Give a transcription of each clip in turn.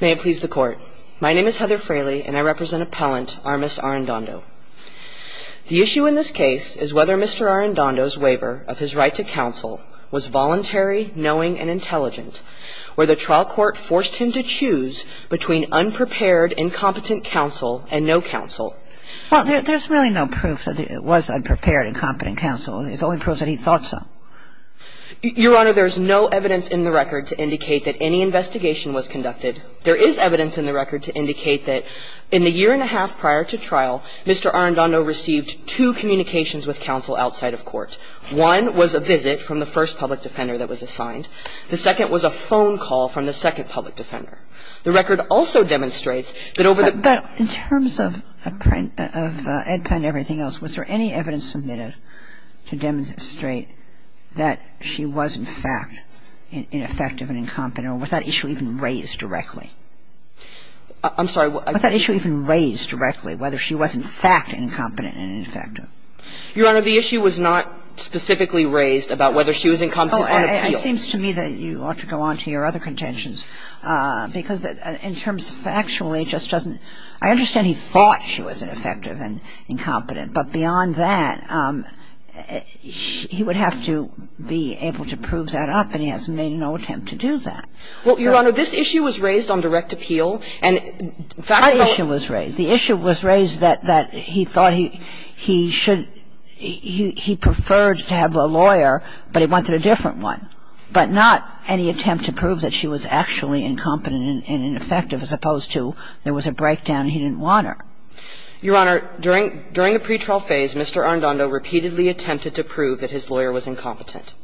May it please the Court. My name is Heather Fraley, and I represent Appellant Armis Arrendondo. The issue in this case is whether Mr. Arrendondo's waiver of his right to counsel was voluntary, knowing, and intelligent, where the trial court forced him to choose between unprepared, incompetent counsel and no counsel. Well, there's really no proof that it was unprepared, incompetent counsel. It only proves that he thought so. Your Honor, there is no evidence in the record to indicate that any investigation was conducted. There is evidence in the record to indicate that in the year and a half prior to trial, Mr. Arrendondo received two communications with counsel outside of court. One was a visit from the first public defender that was assigned. The second was a phone call from the second public defender. The record also demonstrates that over the ---- I'm sorry. Was there any evidence submitted to demonstrate that she was, in fact, ineffective and incompetent, or was that issue even raised directly? I'm sorry. Was that issue even raised directly, whether she was, in fact, incompetent and ineffective? Your Honor, the issue was not specifically raised about whether she was incompetent on appeal. It seems to me that you ought to go on to your other contentions, because in terms to go on to your other contentions, because factually it just doesn't ---- I understand he thought she was ineffective and incompetent, but beyond that, he would have to be able to prove that up, and he has made no attempt to do that. Well, Your Honor, this issue was raised on direct appeal, and factually ---- That issue was raised. The issue was raised that he thought he should ---- he preferred to have a lawyer, but he wanted a different one, but not any attempt to prove that she was actually incompetent and ineffective as opposed to there was a breakdown and he didn't want her. Your Honor, during the pretrial phase, Mr. Arradondo repeatedly attempted to prove that his lawyer was incompetent.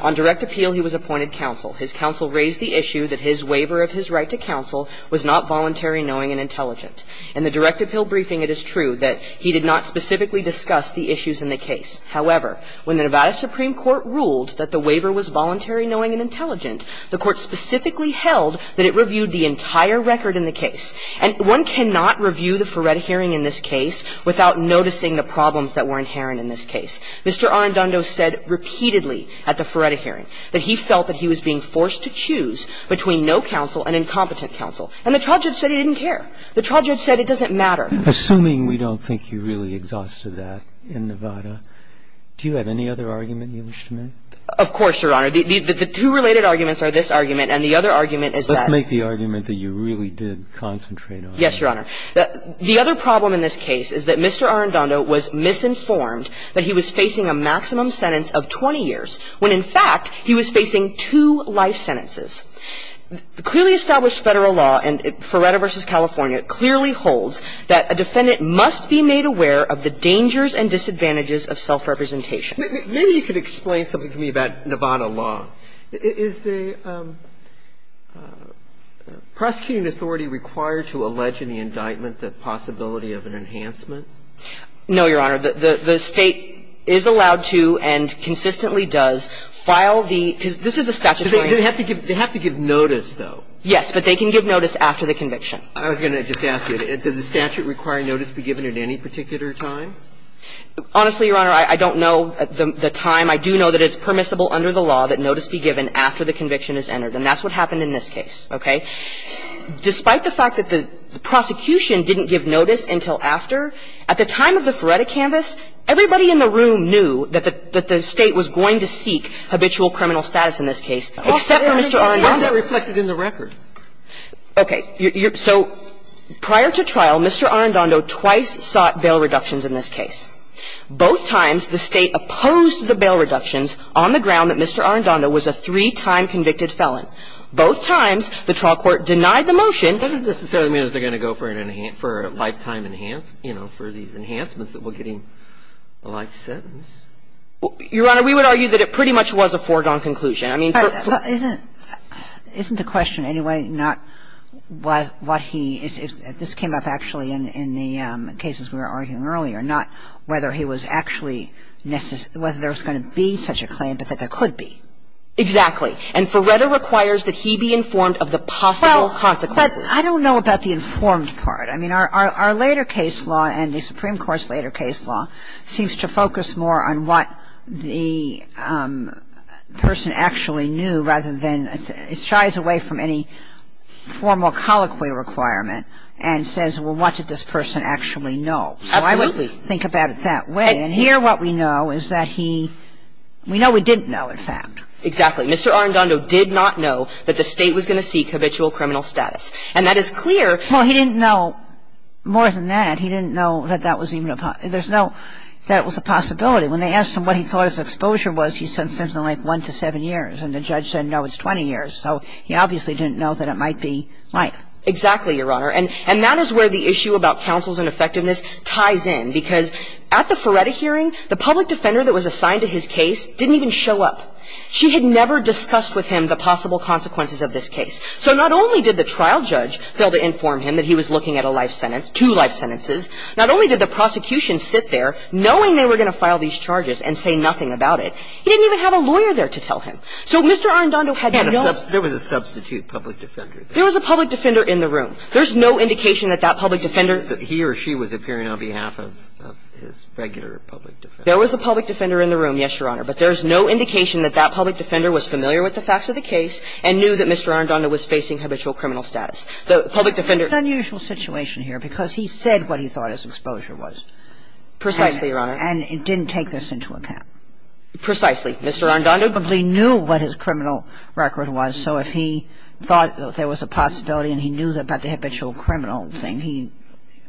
On direct appeal, he was appointed counsel. His counsel raised the issue that his waiver of his right to counsel was not voluntary, knowing, and intelligent. In the direct appeal briefing, it is true that he did not specifically discuss the issues in the case. However, when the Nevada Supreme Court ruled that the waiver was voluntary, knowing, and intelligent, the Court specifically held that it reviewed the entire record in the case. And one cannot review the Ferretta hearing in this case without noticing the problems that were inherent in this case. Mr. Arradondo said repeatedly at the Ferretta hearing that he felt that he was being forced to choose between no counsel and incompetent counsel. And the trial judge said he didn't care. The trial judge said it doesn't matter. Assuming we don't think you really exhausted that in Nevada, do you have any other argument you wish to make? Of course, Your Honor. The two related arguments are this argument and the other argument is that the other problem in this case is that Mr. Arradondo was misinformed that he was facing a maximum sentence of 20 years when, in fact, he was facing two life sentences. Clearly established Federal law and the Federal law of the United States, it's not It's the Federal law of the United States, and Ferretta v. California clearly holds that a defendant must be made aware of the dangers and disadvantages of self-representation. Maybe you could explain something to me about Nevada law. Is the prosecuting authority required to allege in the indictment the possibility of an enhancement? No, Your Honor. The State is allowed to and consistently does file the – because this is a statutory They have to give notice, though. Yes, but they can give notice after the conviction. I was going to just ask you, does the statute require notice be given at any particular time? Honestly, Your Honor, I don't know the time. I do know that it's permissible under the law that notice be given after the conviction is entered, and that's what happened in this case, okay? Despite the fact that the prosecution didn't give notice until after, at the time of the Ferretta canvass, everybody in the room knew that the State was going to seek habitual criminal status in this case, except for Mr. Arrandondo. Well, that reflected in the record. Okay. So prior to trial, Mr. Arrandondo twice sought bail reductions in this case. Both times, the State opposed the bail reductions on the ground that Mr. Arrandondo was a three-time convicted felon. Both times, the trial court denied the motion. That doesn't necessarily mean that they're going to go for a lifetime enhancements you know, for these enhancements that we're getting a life sentence. Your Honor, we would argue that it pretty much was a foregone conclusion. I mean, for the Isn't the question anyway not what he – if this came up actually in the cases we were arguing earlier, not whether he was actually – whether there was going to be such a claim, but that there could be. Exactly. And Ferretta requires that he be informed of the possible consequences. Well, but I don't know about the informed part. I mean, our later case law and the Supreme Court's later case law seems to focus more on what the person actually knew rather than – it shies away from any formal colloquy requirement and says, well, what did this person actually know? Absolutely. So I would think about it that way. And here what we know is that he – we know he didn't know, in fact. Exactly. Mr. Arendando did not know that the State was going to seek habitual criminal status. And that is clear. Well, he didn't know more than that. He didn't know that that was even a – there's no – that it was a possibility. When they asked him what he thought his exposure was, he said something like one to seven years. And the judge said, no, it's 20 years. So he obviously didn't know that it might be life. Exactly, Your Honor. And that is where the issue about counsel's ineffectiveness ties in. Because at the Ferretta hearing, the public defender that was assigned to his case didn't even show up. She had never discussed with him the possible consequences of this case. So not only did the trial judge fail to inform him that he was looking at a life sentence, two life sentences, not only did the prosecution sit there knowing they were going to file these charges and say nothing about it, he didn't even have a lawyer there to tell him. So Mr. Arendando had no – There was a substitute public defender. There was a public defender in the room. There's no indication that that public defender – That he or she was appearing on behalf of his regular public defender. There was a public defender in the room, yes, Your Honor. But there's no indication that that public defender was familiar with the facts of the case and knew that Mr. Arendando was facing habitual criminal status. The public defender – It's an unusual situation here because he said what he thought his exposure was. Precisely, Your Honor. And didn't take this into account. Precisely. Mr. Arendando – He probably knew what his criminal record was. So if he thought there was a possibility and he knew about the habitual criminal thing, he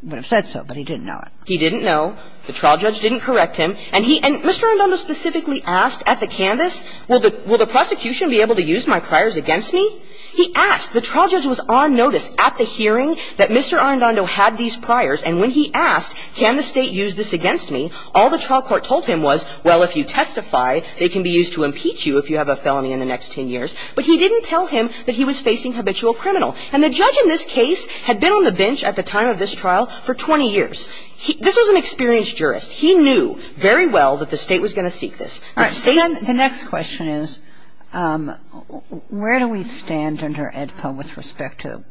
would have said so, but he didn't know it. He didn't know. The trial judge didn't correct him. And he – and Mr. Arendando specifically asked at the canvas, will the prosecution be able to use my priors against me? He asked. The trial judge was on notice at the hearing that Mr. Arendando had these priors, and when he asked, can the State use this against me, all the trial court told him was, well, if you testify, they can be used to impeach you if you have a felony in the next 10 years. But he didn't tell him that he was facing habitual criminal. And the judge in this case had been on the bench at the time of this trial for 20 years. This was an experienced jurist. He knew very well that the State was going to seek this. The State – The next question is, where do we stand under AEDPA with respect to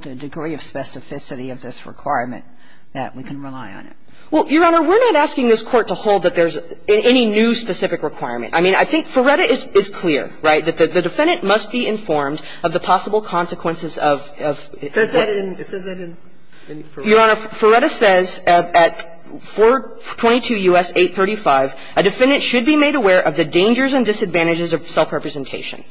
the degree of specificity of this requirement that we can rely on it? Well, Your Honor, we're not asking this Court to hold that there's any new specific requirement. I mean, I think Ferretta is clear, right, that the defendant must be informed of the possible consequences of – of – It says that in – it says that in Ferretta. Your Honor, Ferretta says at 422 U.S. 835, a defendant should be made aware of the dangers and disadvantages of self-representation.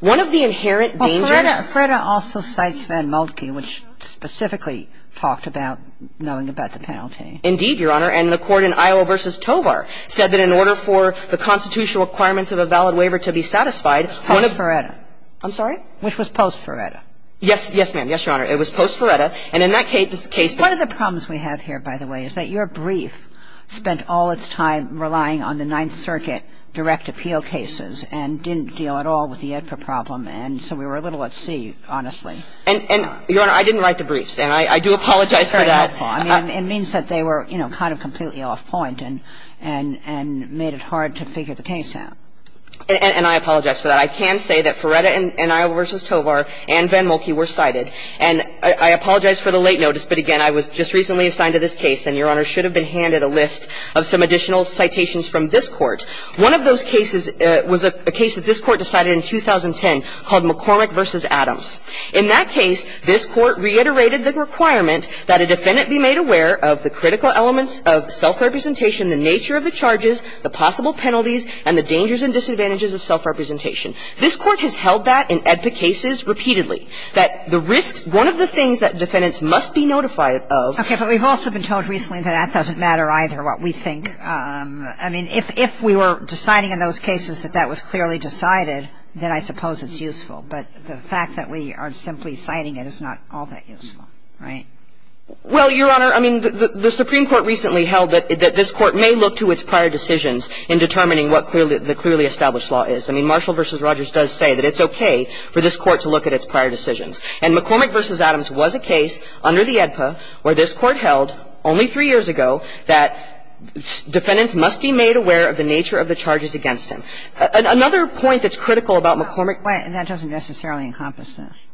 One of the inherent dangers – Well, Ferretta – Ferretta also cites Van Moltke, which specifically talked about knowing about the penalty. Indeed, Your Honor. And the court in Iowa v. Tovar said that in order for the constitutional requirements of a valid waiver to be satisfied, one of – Post-Ferretta. I'm sorry? Which was post-Ferretta. Yes. Yes, ma'am. Yes, Your Honor. It was post-Ferretta. And in that case – One of the problems we have here, by the way, is that your brief spent all its time relying on the Ninth Circuit direct appeal cases and didn't deal at all with the AEDPA problem, and so we were a little at sea, honestly. And, Your Honor, I didn't write the briefs, and I do apologize for that. I mean, it means that they were, you know, kind of completely off-point and – and made it hard to figure the case out. And I apologize for that. I can say that Ferretta in Iowa v. Tovar and Van Moltke were cited. And I apologize for the late notice, but, again, I was just recently assigned to this case, and, Your Honor, should have been handed a list of some additional citations from this Court. One of those cases was a case that this Court decided in 2010 called McCormick v. Adams. In that case, this Court reiterated the requirement that a defendant be made aware of the critical elements of self-representation, the nature of the charges, the possible penalties, and the dangers and disadvantages of self-representation. This Court has held that in AEDPA cases repeatedly, that the risks – one of the things that defendants must be notified of – Okay. But we've also been told recently that that doesn't matter either, what we think. I mean, if we were deciding in those cases that that was clearly decided, then I suppose it's useful. But the fact that we are simply citing it is not all that useful, right? Well, Your Honor, I mean, the Supreme Court recently held that this Court may look to its prior decisions in determining what clearly – the clearly established law is. I mean, Marshall v. Rogers does say that it's okay for this Court to look at its prior decisions. And McCormick v. Adams was a case under the AEDPA where this Court held only three years ago that defendants must be made aware of the nature of the charges against them. Another point that's critical about McCormick – Wait. That doesn't necessarily encompass this.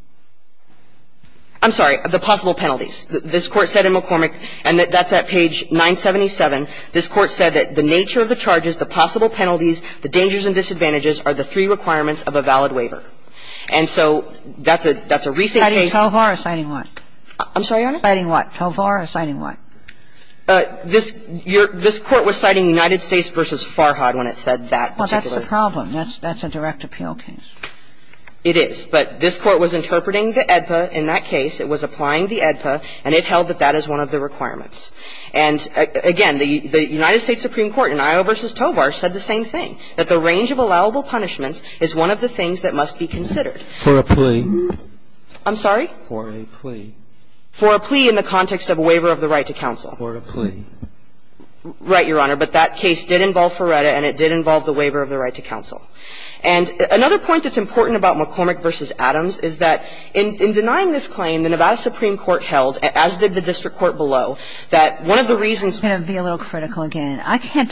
I'm sorry. The possible penalties. This Court said in McCormick, and that's at page 977, this Court said that the nature of the charges, the possible penalties, the dangers and disadvantages are the three requirements of a valid waiver. And so that's a recent case. Citing Tovar or citing what? I'm sorry, Your Honor? Citing what? Tovar or citing what? This Court was citing United States v. Farhad when it said that particular That's the problem. That's a direct appeal case. It is. But this Court was interpreting the AEDPA in that case. It was applying the AEDPA, and it held that that is one of the requirements. And, again, the United States Supreme Court in Iowa v. Tovar said the same thing, that the range of allowable punishments is one of the things that must be considered. For a plea. I'm sorry? For a plea. For a plea in the context of a waiver of the right to counsel. For a plea. Right, Your Honor. But that case did involve Farhad, and it did involve the waiver of the right to counsel. And another point that's important about McCormick v. Adams is that in denying this claim, the Nevada Supreme Court held, as did the district court below, that one of the reasons I'm going to be a little critical again. I can't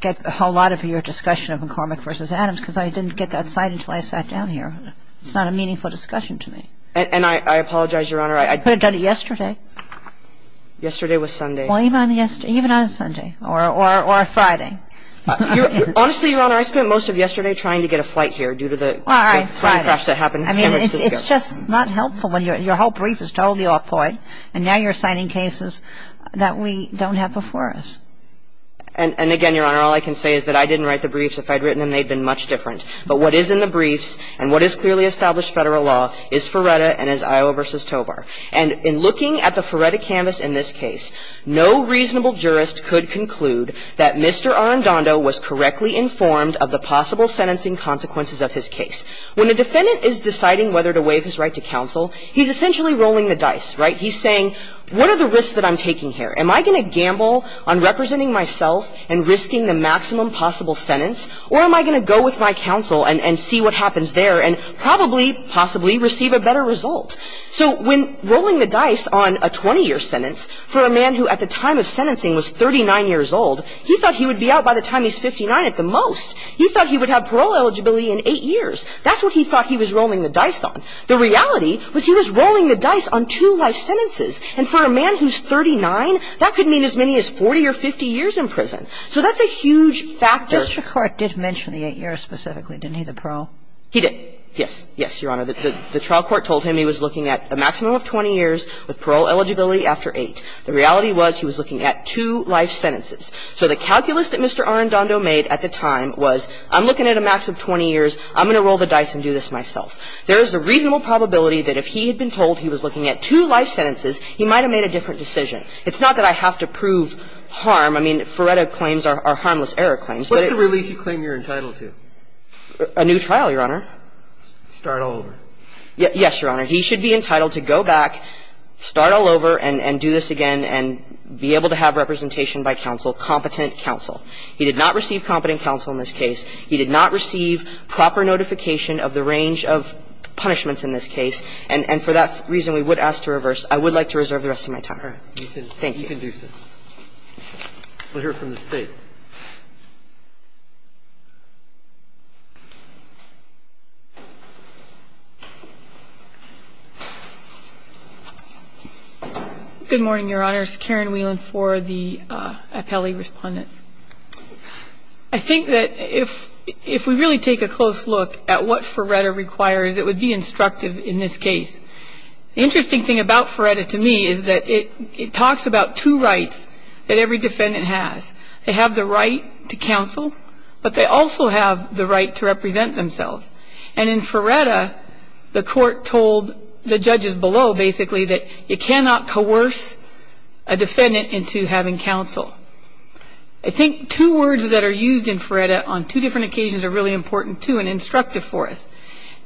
get a whole lot of your discussion of McCormick v. Adams because I didn't get that cite until I sat down here. It's not a meaningful discussion to me. And I apologize, Your Honor. I could have done it yesterday. Yesterday was Sunday. Well, even on a Sunday. Or a Friday. Honestly, Your Honor, I spent most of yesterday trying to get a flight here due to the plane crash that happened in San Francisco. It's just not helpful when your whole brief is totally off point, and now you're citing cases that we don't have before us. And again, Your Honor, all I can say is that I didn't write the briefs. If I had written them, they'd have been much different. But what is in the briefs and what is clearly established Federal law is Ferretta and is Iowa v. Tovar. And in looking at the Ferretta canvas in this case, no reasonable jurist could conclude that Mr. Arrandondo was correctly informed of the possible sentencing consequences of his case. When a defendant is deciding whether to waive his right to counsel, he's essentially rolling the dice, right? He's saying, what are the risks that I'm taking here? Am I going to gamble on representing myself and risking the maximum possible sentence? Or am I going to go with my counsel and see what happens there and probably, possibly receive a better result? So when rolling the dice on a 20-year sentence for a man who at the time of sentencing was 39 years old, he thought he would be out by the time he's 59 at the most. He thought he would have parole eligibility in eight years. That's what he thought he was rolling the dice on. The reality was he was rolling the dice on two life sentences. And for a man who's 39, that could mean as many as 40 or 50 years in prison. So that's a huge factor. Kagan. Mr. Court did mention the eight years specifically, didn't he, the parole? He did. Yes. Yes, Your Honor. The trial court told him he was looking at a maximum of 20 years with parole eligibility after eight. The reality was he was looking at two life sentences. So the calculus that Mr. Arendando made at the time was I'm looking at a max of 20 years, I'm going to roll the dice and do this myself. There is a reasonable probability that if he had been told he was looking at two life sentences, he might have made a different decision. It's not that I have to prove harm. I mean, Ferretta claims are harmless error claims, but it was a new trial. Your Honor, start all over. Yes, Your Honor. He should be entitled to go back, start all over and do this again and be able to have a representation by counsel, competent counsel. He did not receive competent counsel in this case. He did not receive proper notification of the range of punishments in this case. And for that reason, we would ask to reverse. I would like to reserve the rest of my time. Thank you. We'll hear from the State. Good morning, Your Honors. Karen Whelan for the appellee respondent. I think that if we really take a close look at what Ferretta requires, it would be instructive in this case. The interesting thing about Ferretta to me is that it talks about two rights that every defendant has. They have the right to counsel, but they also have the right to represent themselves. And in Ferretta, the court told the judges below, basically, that you cannot coerce a defendant into having counsel. I think two words that are used in Ferretta on two different occasions are really important too and instructive for us.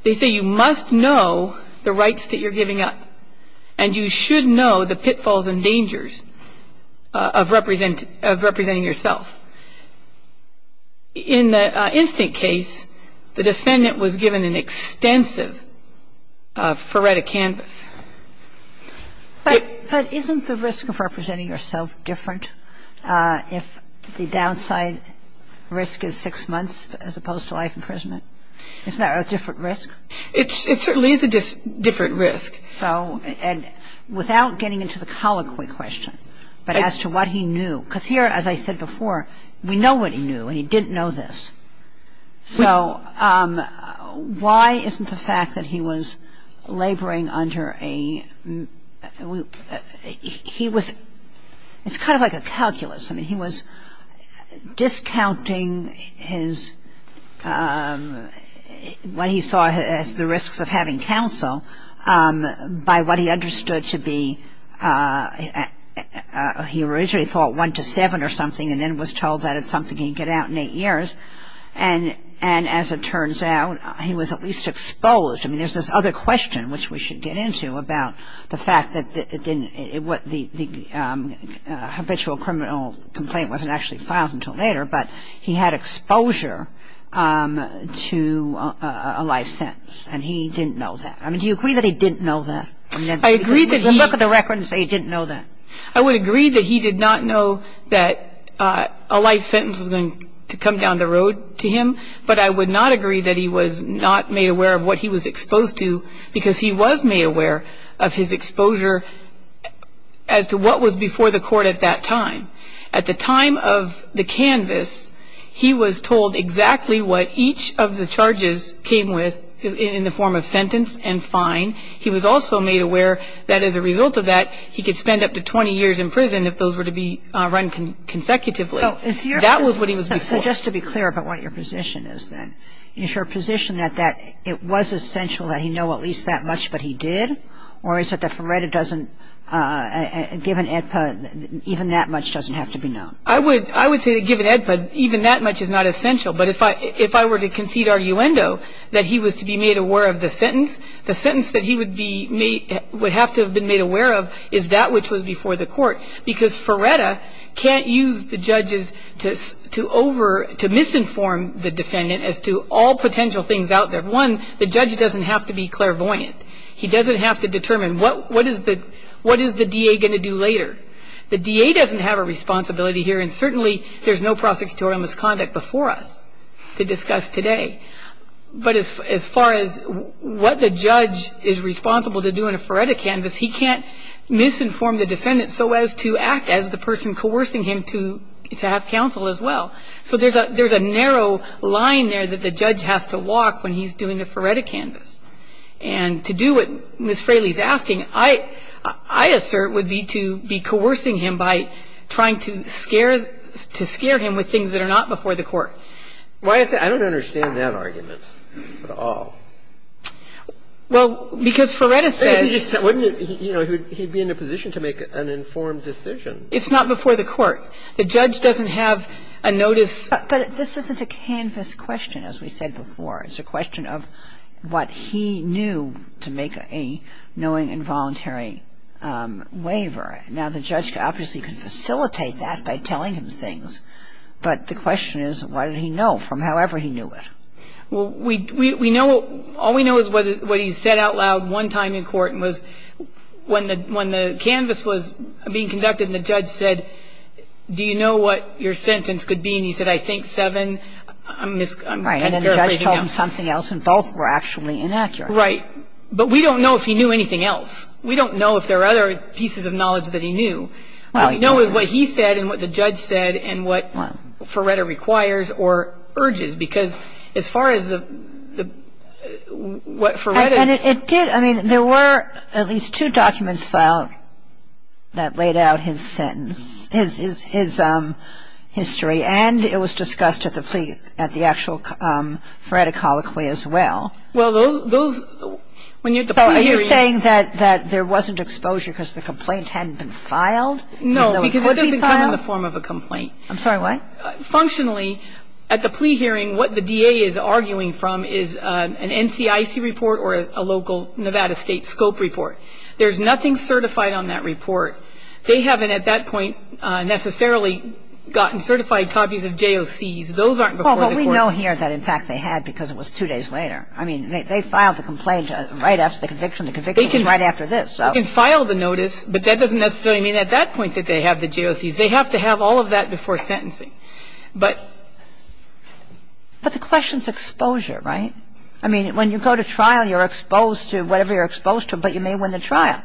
They say you must know the rights that you're giving up, and you should know the pitfalls and dangers of representing yourself. In the instant case, the defendant was given an extensive Ferretta canvas. But isn't the risk of representing yourself different if the downside risk is six months as opposed to life imprisonment? Isn't that a different risk? It certainly is a different risk. So, and without getting into the colloquy question, but as to what he knew, because here, as I said before, we know what he knew, and he didn't know this. So why isn't the fact that he was laboring under a, he was, it's kind of like a calculus. I mean, he was discounting his, what he saw as the risks of having counsel by what he originally thought, one to seven or something, and then was told that it's something he'd get out in eight years. And as it turns out, he was at least exposed. I mean, there's this other question, which we should get into, about the fact that it didn't, what the habitual criminal complaint wasn't actually filed until later, but he had exposure to a life sentence. And he didn't know that. I mean, do you agree that he didn't know that? I mean, look at the record and say he didn't know that. I would agree that he did not know that a life sentence was going to come down the road to him, but I would not agree that he was not made aware of what he was exposed to, because he was made aware of his exposure as to what was before the court at that time. At the time of the canvas, he was told exactly what each of the charges came with in the form of sentence and fine. He was also made aware that as a result of that, he could spend up to 20 years in prison if those were to be run consecutively. That was what he was before. So just to be clear about what your position is, then. Is your position that it was essential that he know at least that much, but he did? Or is it that for right, it doesn't, given AEDPA, even that much doesn't have to be known? I would say that given AEDPA, even that much is not essential. But if I were to concede arguendo that he was to be made aware of the sentence, the sentence that he would have to have been made aware of is that which was before the court, because Ferretta can't use the judges to misinform the defendant as to all potential things out there. One, the judge doesn't have to be clairvoyant. He doesn't have to determine what is the DA going to do later. The DA doesn't have a responsibility here, and certainly there's no prosecutorial misconduct before us to discuss today. But as far as what the judge is responsible to do in a Ferretta canvas, he can't misinform the defendant so as to act as the person coercing him to have counsel as well. So there's a narrow line there that the judge has to walk when he's doing the Ferretta canvas. And to do what Ms. Fraley is asking, I assert would be to be coercing him by trying to scare him with things that are not before the court. Why is that? I don't understand that argument at all. Well, because Ferretta says he'd be in a position to make an informed decision. It's not before the court. The judge doesn't have a notice. But this isn't a canvas question, as we said before. It's a question of what he knew to make a knowing involuntary waiver. Now, the judge obviously could facilitate that by telling him things, but the question is, what did he know from however he knew it? Well, we know what he said out loud one time in court was when the canvas was being conducted and the judge said, do you know what your sentence could be? And he said, I think seven. Right. And then the judge told him something else, and both were actually inaccurate. Right. But we don't know if he knew anything else. We don't know if there are other pieces of knowledge that he knew. What we know is what he said and what the judge said and what Ferretta requires or urges, because as far as what Ferretta's ---- And it did, I mean, there were at least two documents filed that laid out his sentence, his history, and it was discussed at the actual Ferretta colloquy as well. Well, those, when you're at the plea hearing ---- No, because it doesn't come in the form of a complaint. I'm sorry, what? Functionally, at the plea hearing, what the DA is arguing from is an NCIC report or a local Nevada State scope report. There's nothing certified on that report. They haven't at that point necessarily gotten certified copies of JOCs. Those aren't before the court. Well, but we know here that, in fact, they had because it was two days later. I mean, they filed the complaint right after the conviction. The conviction was right after this. I mean, you can file the notice, but that doesn't necessarily mean at that point that they have the JOCs. They have to have all of that before sentencing. But ---- But the question is exposure, right? I mean, when you go to trial, you're exposed to whatever you're exposed to, but you may win the trial.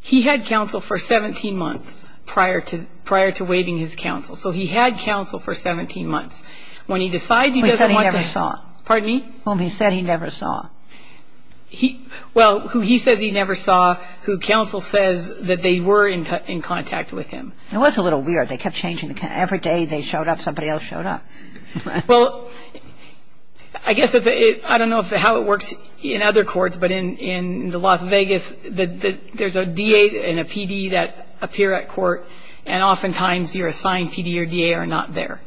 He had counsel for 17 months prior to waiving his counsel. So he had counsel for 17 months. When he decides he doesn't want to ---- He said he never saw. Pardon me? He said he never saw. He ---- well, who he says he never saw, who counsel says that they were in contact with him. It was a little weird. They kept changing. Every day they showed up, somebody else showed up. Well, I guess it's a ---- I don't know how it works in other courts, but in the Las Vegas, there's a DA and a PD that appear at court, and oftentimes your assigned PD or DA are not there.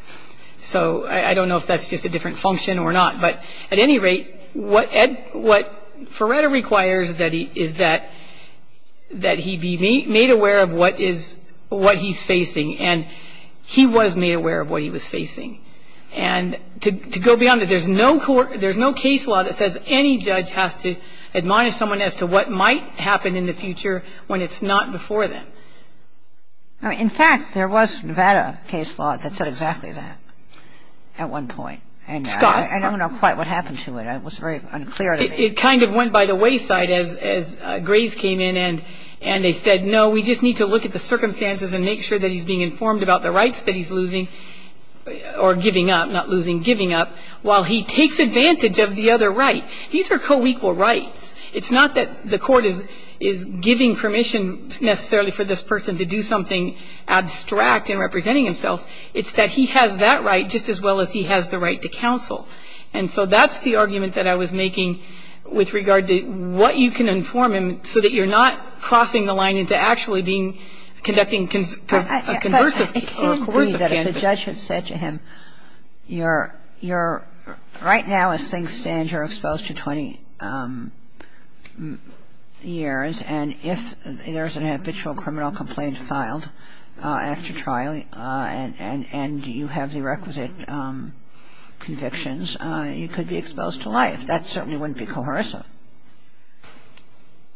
So I don't know if that's just a different function or not. But at any rate, what Ed ---- what Feretta requires is that he be made aware of what is ---- what he's facing, and he was made aware of what he was facing. And to go beyond that, there's no court ---- there's no case law that says any judge has to admonish someone as to what might happen in the future when it's not before them. In fact, there was Nevada case law that said exactly that at one point. Scott. I don't know quite what happened to it. It was very unclear to me. It kind of went by the wayside as Graves came in and they said, no, we just need to look at the circumstances and make sure that he's being informed about the rights that he's losing or giving up, not losing, giving up, while he takes advantage of the other right. These are co-equal rights. It's not that the court is giving permission necessarily for this person to do something abstract in representing himself. It's that he has that right just as well as he has the right to counsel. And so that's the argument that I was making with regard to what you can inform him so that you're not crossing the line into actually being conducting a conversive or a coercive canvas. But it can be that if a judge had said to him, you're right now a sink stand, you're exposed to 20 years, and if there's an habitual criminal complaint filed after trial, and you have the requisite convictions, you could be exposed to life. That certainly wouldn't be coercive.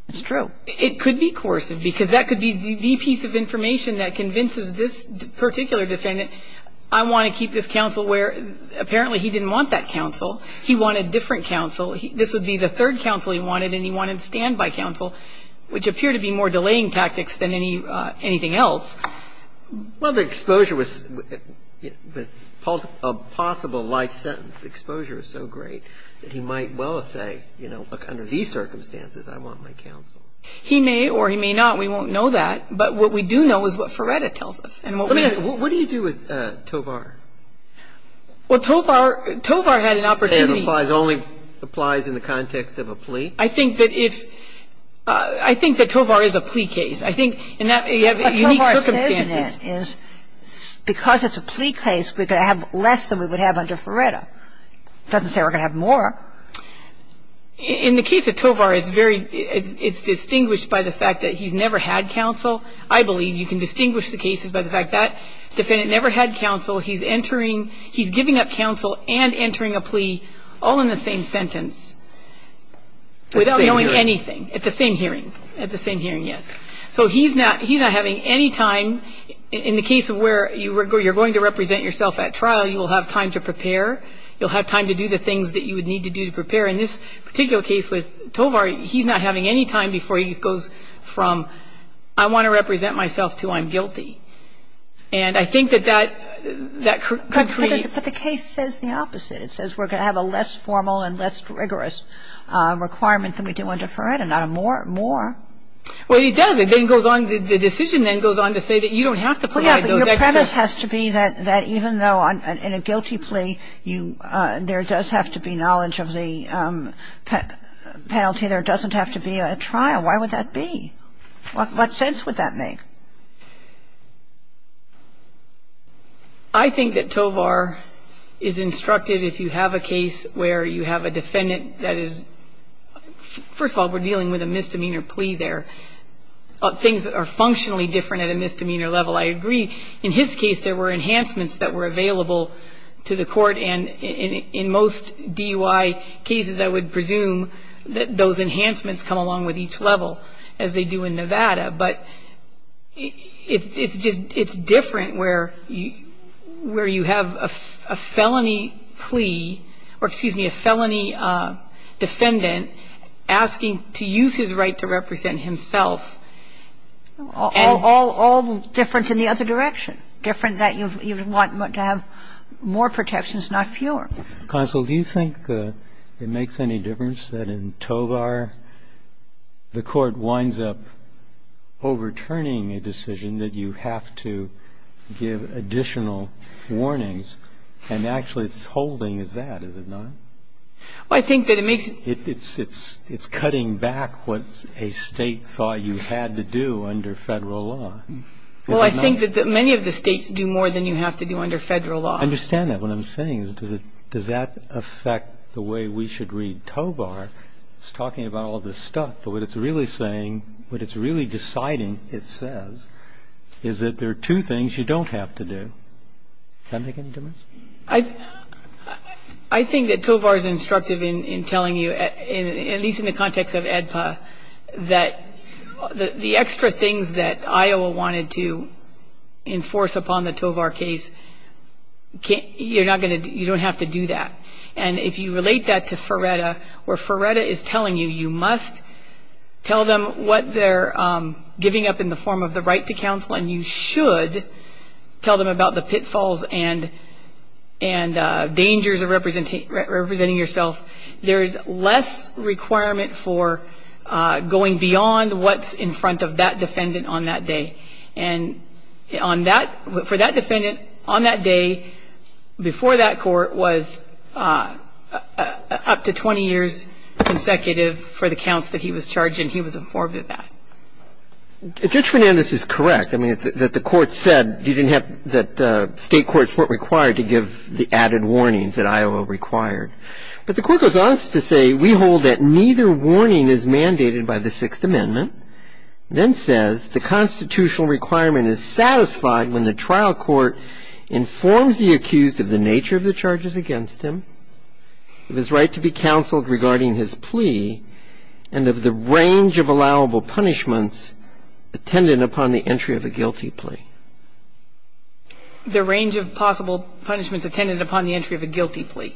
It's true. It could be coercive because that could be the piece of information that convinces this particular defendant, I want to keep this counsel where apparently he didn't want that counsel. He wanted different counsel. This would be the third counsel he wanted, and he wanted standby counsel, which appear to be more delaying tactics than anything else. Well, the exposure was a possible life sentence. Exposure is so great that he might well say, you know, look, under these circumstances I want my counsel. He may or he may not. We won't know that. But what we do know is what Ferretta tells us. What do you do with Tovar? Well, Tovar had an opportunity. It only applies in the context of a plea? I think that if – I think that Tovar is a plea case. I think in that you have unique circumstances. But Tovar says that because it's a plea case, we're going to have less than we would have under Ferretta. It doesn't say we're going to have more. In the case of Tovar, it's very – it's distinguished by the fact that he's never had counsel. I believe you can distinguish the cases by the fact that defendant never had counsel. He's entering – he's giving up counsel and entering a plea all in the same sentence without knowing anything. At the same hearing. At the same hearing, yes. So he's not – he's not having any time in the case of where you're going to represent yourself at trial. You will have time to prepare. You'll have time to do the things that you would need to do to prepare. In this particular case with Tovar, he's not having any time before he goes from I want to represent myself to I'm guilty. And I think that that could be – But the case says the opposite. It says we're going to have a less formal and less rigorous requirement than we do under Ferretta, not a more – more. Well, it does. It then goes on – the decision then goes on to say that you don't have to provide those extras. Well, yeah, but your premise has to be that even though in a guilty plea you – there does have to be knowledge of the penalty, there doesn't have to be a trial. Why would that be? What sense would that make? I think that Tovar is instructed if you have a case where you have a defendant that is – first of all, we're dealing with a misdemeanor plea there, things that are functionally different at a misdemeanor level. I agree. In his case, there were enhancements that were available to the court, and in most DUI cases, I would presume that those enhancements come along with each level, as they do in Nevada. But it's just – it's different where you have a felony plea – or, excuse me, a felony defendant asking to use his right to represent himself. All different in the other direction, different that you want to have more protections, not fewer. Counsel, do you think it makes any difference that in Tovar the court winds up overturning a decision that you have to give additional warnings, and actually its holding it? Well, I think that it makes – It's cutting back what a State thought you had to do under Federal law. Well, I think that many of the States do more than you have to do under Federal law. I understand that. What I'm saying is, does that affect the way we should read Tovar? It's talking about all this stuff, but what it's really saying, what it's really deciding, it says, is that there are two things you don't have to do. Does that make any difference? I think that Tovar is instructive in telling you, at least in the context of AEDPA, that the extra things that Iowa wanted to enforce upon the Tovar case, you're not going to – you don't have to do that. And if you relate that to Ferretta, where Ferretta is telling you you must tell them what they're giving up in the form of the right to counsel, and you should tell them about the pitfalls and dangers of representing yourself, there is less requirement for going beyond what's in front of that defendant on that day. And on that – for that defendant on that day, before that court, was up to 20 years consecutive for the counts that he was charged, and he was informed of that. Judge Fernandez is correct. I mean, that the court said you didn't have – that state courts weren't required to give the added warnings that Iowa required. But the court goes on to say, we hold that neither warning is mandated by the Sixth Amendment, then says the constitutional requirement is satisfied when the trial court informs the accused of the nature of the charges against him, of his right to be counseled regarding his plea, and of the range of allowable punishments attended upon the entry of a guilty plea. The range of possible punishments attended upon the entry of a guilty plea.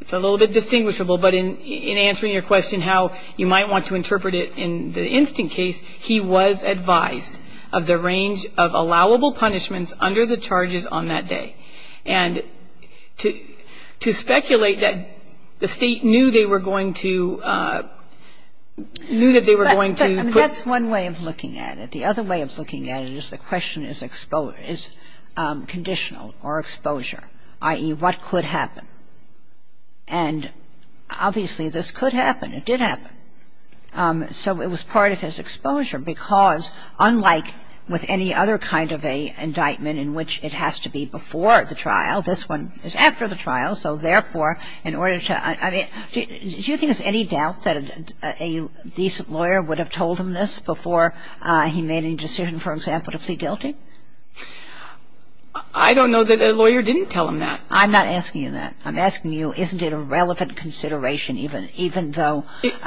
It's a little bit distinguishable, but in answering your question how you might want to interpret it in the instant case, he was advised of the range of allowable punishments under the charges on that day. And to speculate that the State knew they were going to – knew that they were going to put – But that's one way of looking at it. The other way of looking at it is the question is conditional or exposure, i.e., what could happen. And obviously, this could happen. It did happen. So it was part of his exposure, because unlike with any other kind of an indictment in which it has to be before the trial, this one is after the trial, so therefore in order to – I mean, do you think there's any doubt that a decent lawyer would have told him this before he made any decision, for example, to plead guilty? I don't know that a lawyer didn't tell him that. I'm not asking you that. I'm asking you isn't it a relevant consideration even – even though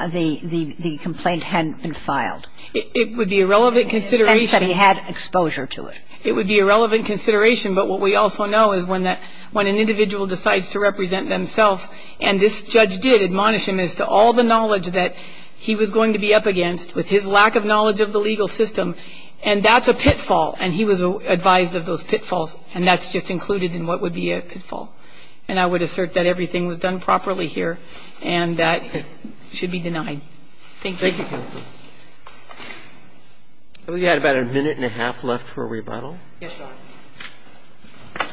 the complaint hadn't been filed? It would be a relevant consideration. And he said he had exposure to it. It would be a relevant consideration, but what we also know is when an individual decides to represent themselves, and this judge did admonish him as to all the knowledge that he was going to be up against with his lack of knowledge of the legal system, and that's a pitfall. And he was advised of those pitfalls, and that's just included in what would be a pitfall. And I would assert that everything was done properly here, and that should be denied. Thank you. Thank you, counsel. I believe you had about a minute and a half left for a rebuttal. Yes, Your Honor.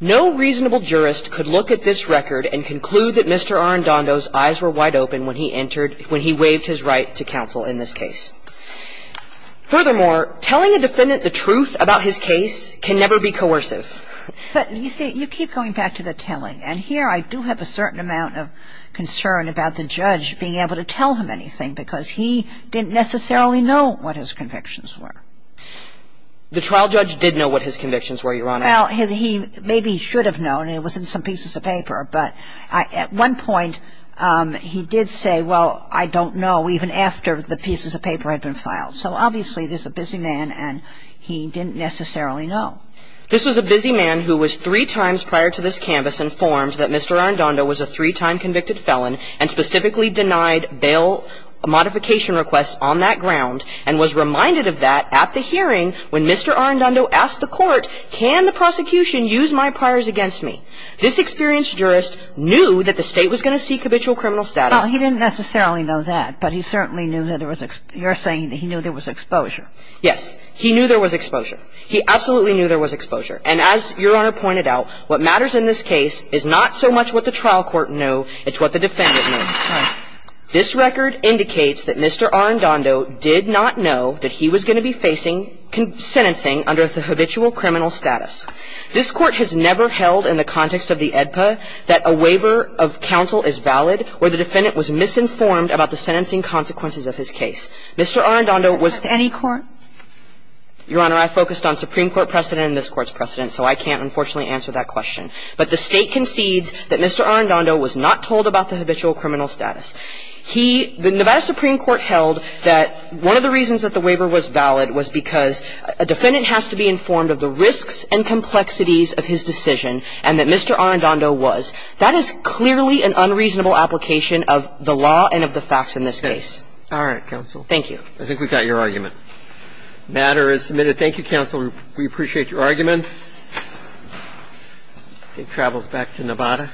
No reasonable jurist could look at this record and conclude that Mr. Arendando's eyes were wide open when he entered – when he waived his right to counsel in this case. Furthermore, telling a defendant the truth about his case can never be coercive. But, you see, you keep going back to the telling, and here I do have a certain amount of concern about the judge being able to tell him anything, because he didn't necessarily know what his convictions were. The trial judge did know what his convictions were, Your Honor. Well, he maybe should have known. It was in some pieces of paper. But at one point he did say, well, I don't know, even after the pieces of paper had been filed. So, obviously, this is a busy man, and he didn't necessarily know. This was a busy man who was three times prior to this canvas informed that Mr. Arendando was a three-time convicted felon and specifically denied bail modification requests on that ground and was reminded of that at the hearing when Mr. Arendando asked the court, can the prosecution use my priors against me? This experienced jurist knew that the State was going to seek habitual criminal status. Well, he didn't necessarily know that, but he certainly knew that there was – you're saying that he knew there was exposure. Yes. He knew there was exposure. He absolutely knew there was exposure. And as Your Honor pointed out, what matters in this case is not so much what the trial court knew, it's what the defendant knew. This record indicates that Mr. Arendando did not know that he was going to be facing sentencing under the habitual criminal status. This Court has never held in the context of the AEDPA that a waiver of counsel is valid or the defendant was misinformed about the sentencing consequences of his case. Mr. Arendando was – Any court? Your Honor, I focused on Supreme Court precedent and this Court's precedent, so I can't, unfortunately, answer that question. But the State concedes that Mr. Arendando was not told about the habitual criminal status. He – the Nevada Supreme Court held that one of the reasons that the waiver was valid was because a defendant has to be informed of the risks and complexities of his decision and that Mr. Arendando was. That is clearly an unreasonable application of the law and of the facts in this case. All right, counsel. Thank you. I think we got your argument. The matter is submitted. Thank you, counsel. We appreciate your arguments. Safe travels back to Nevada.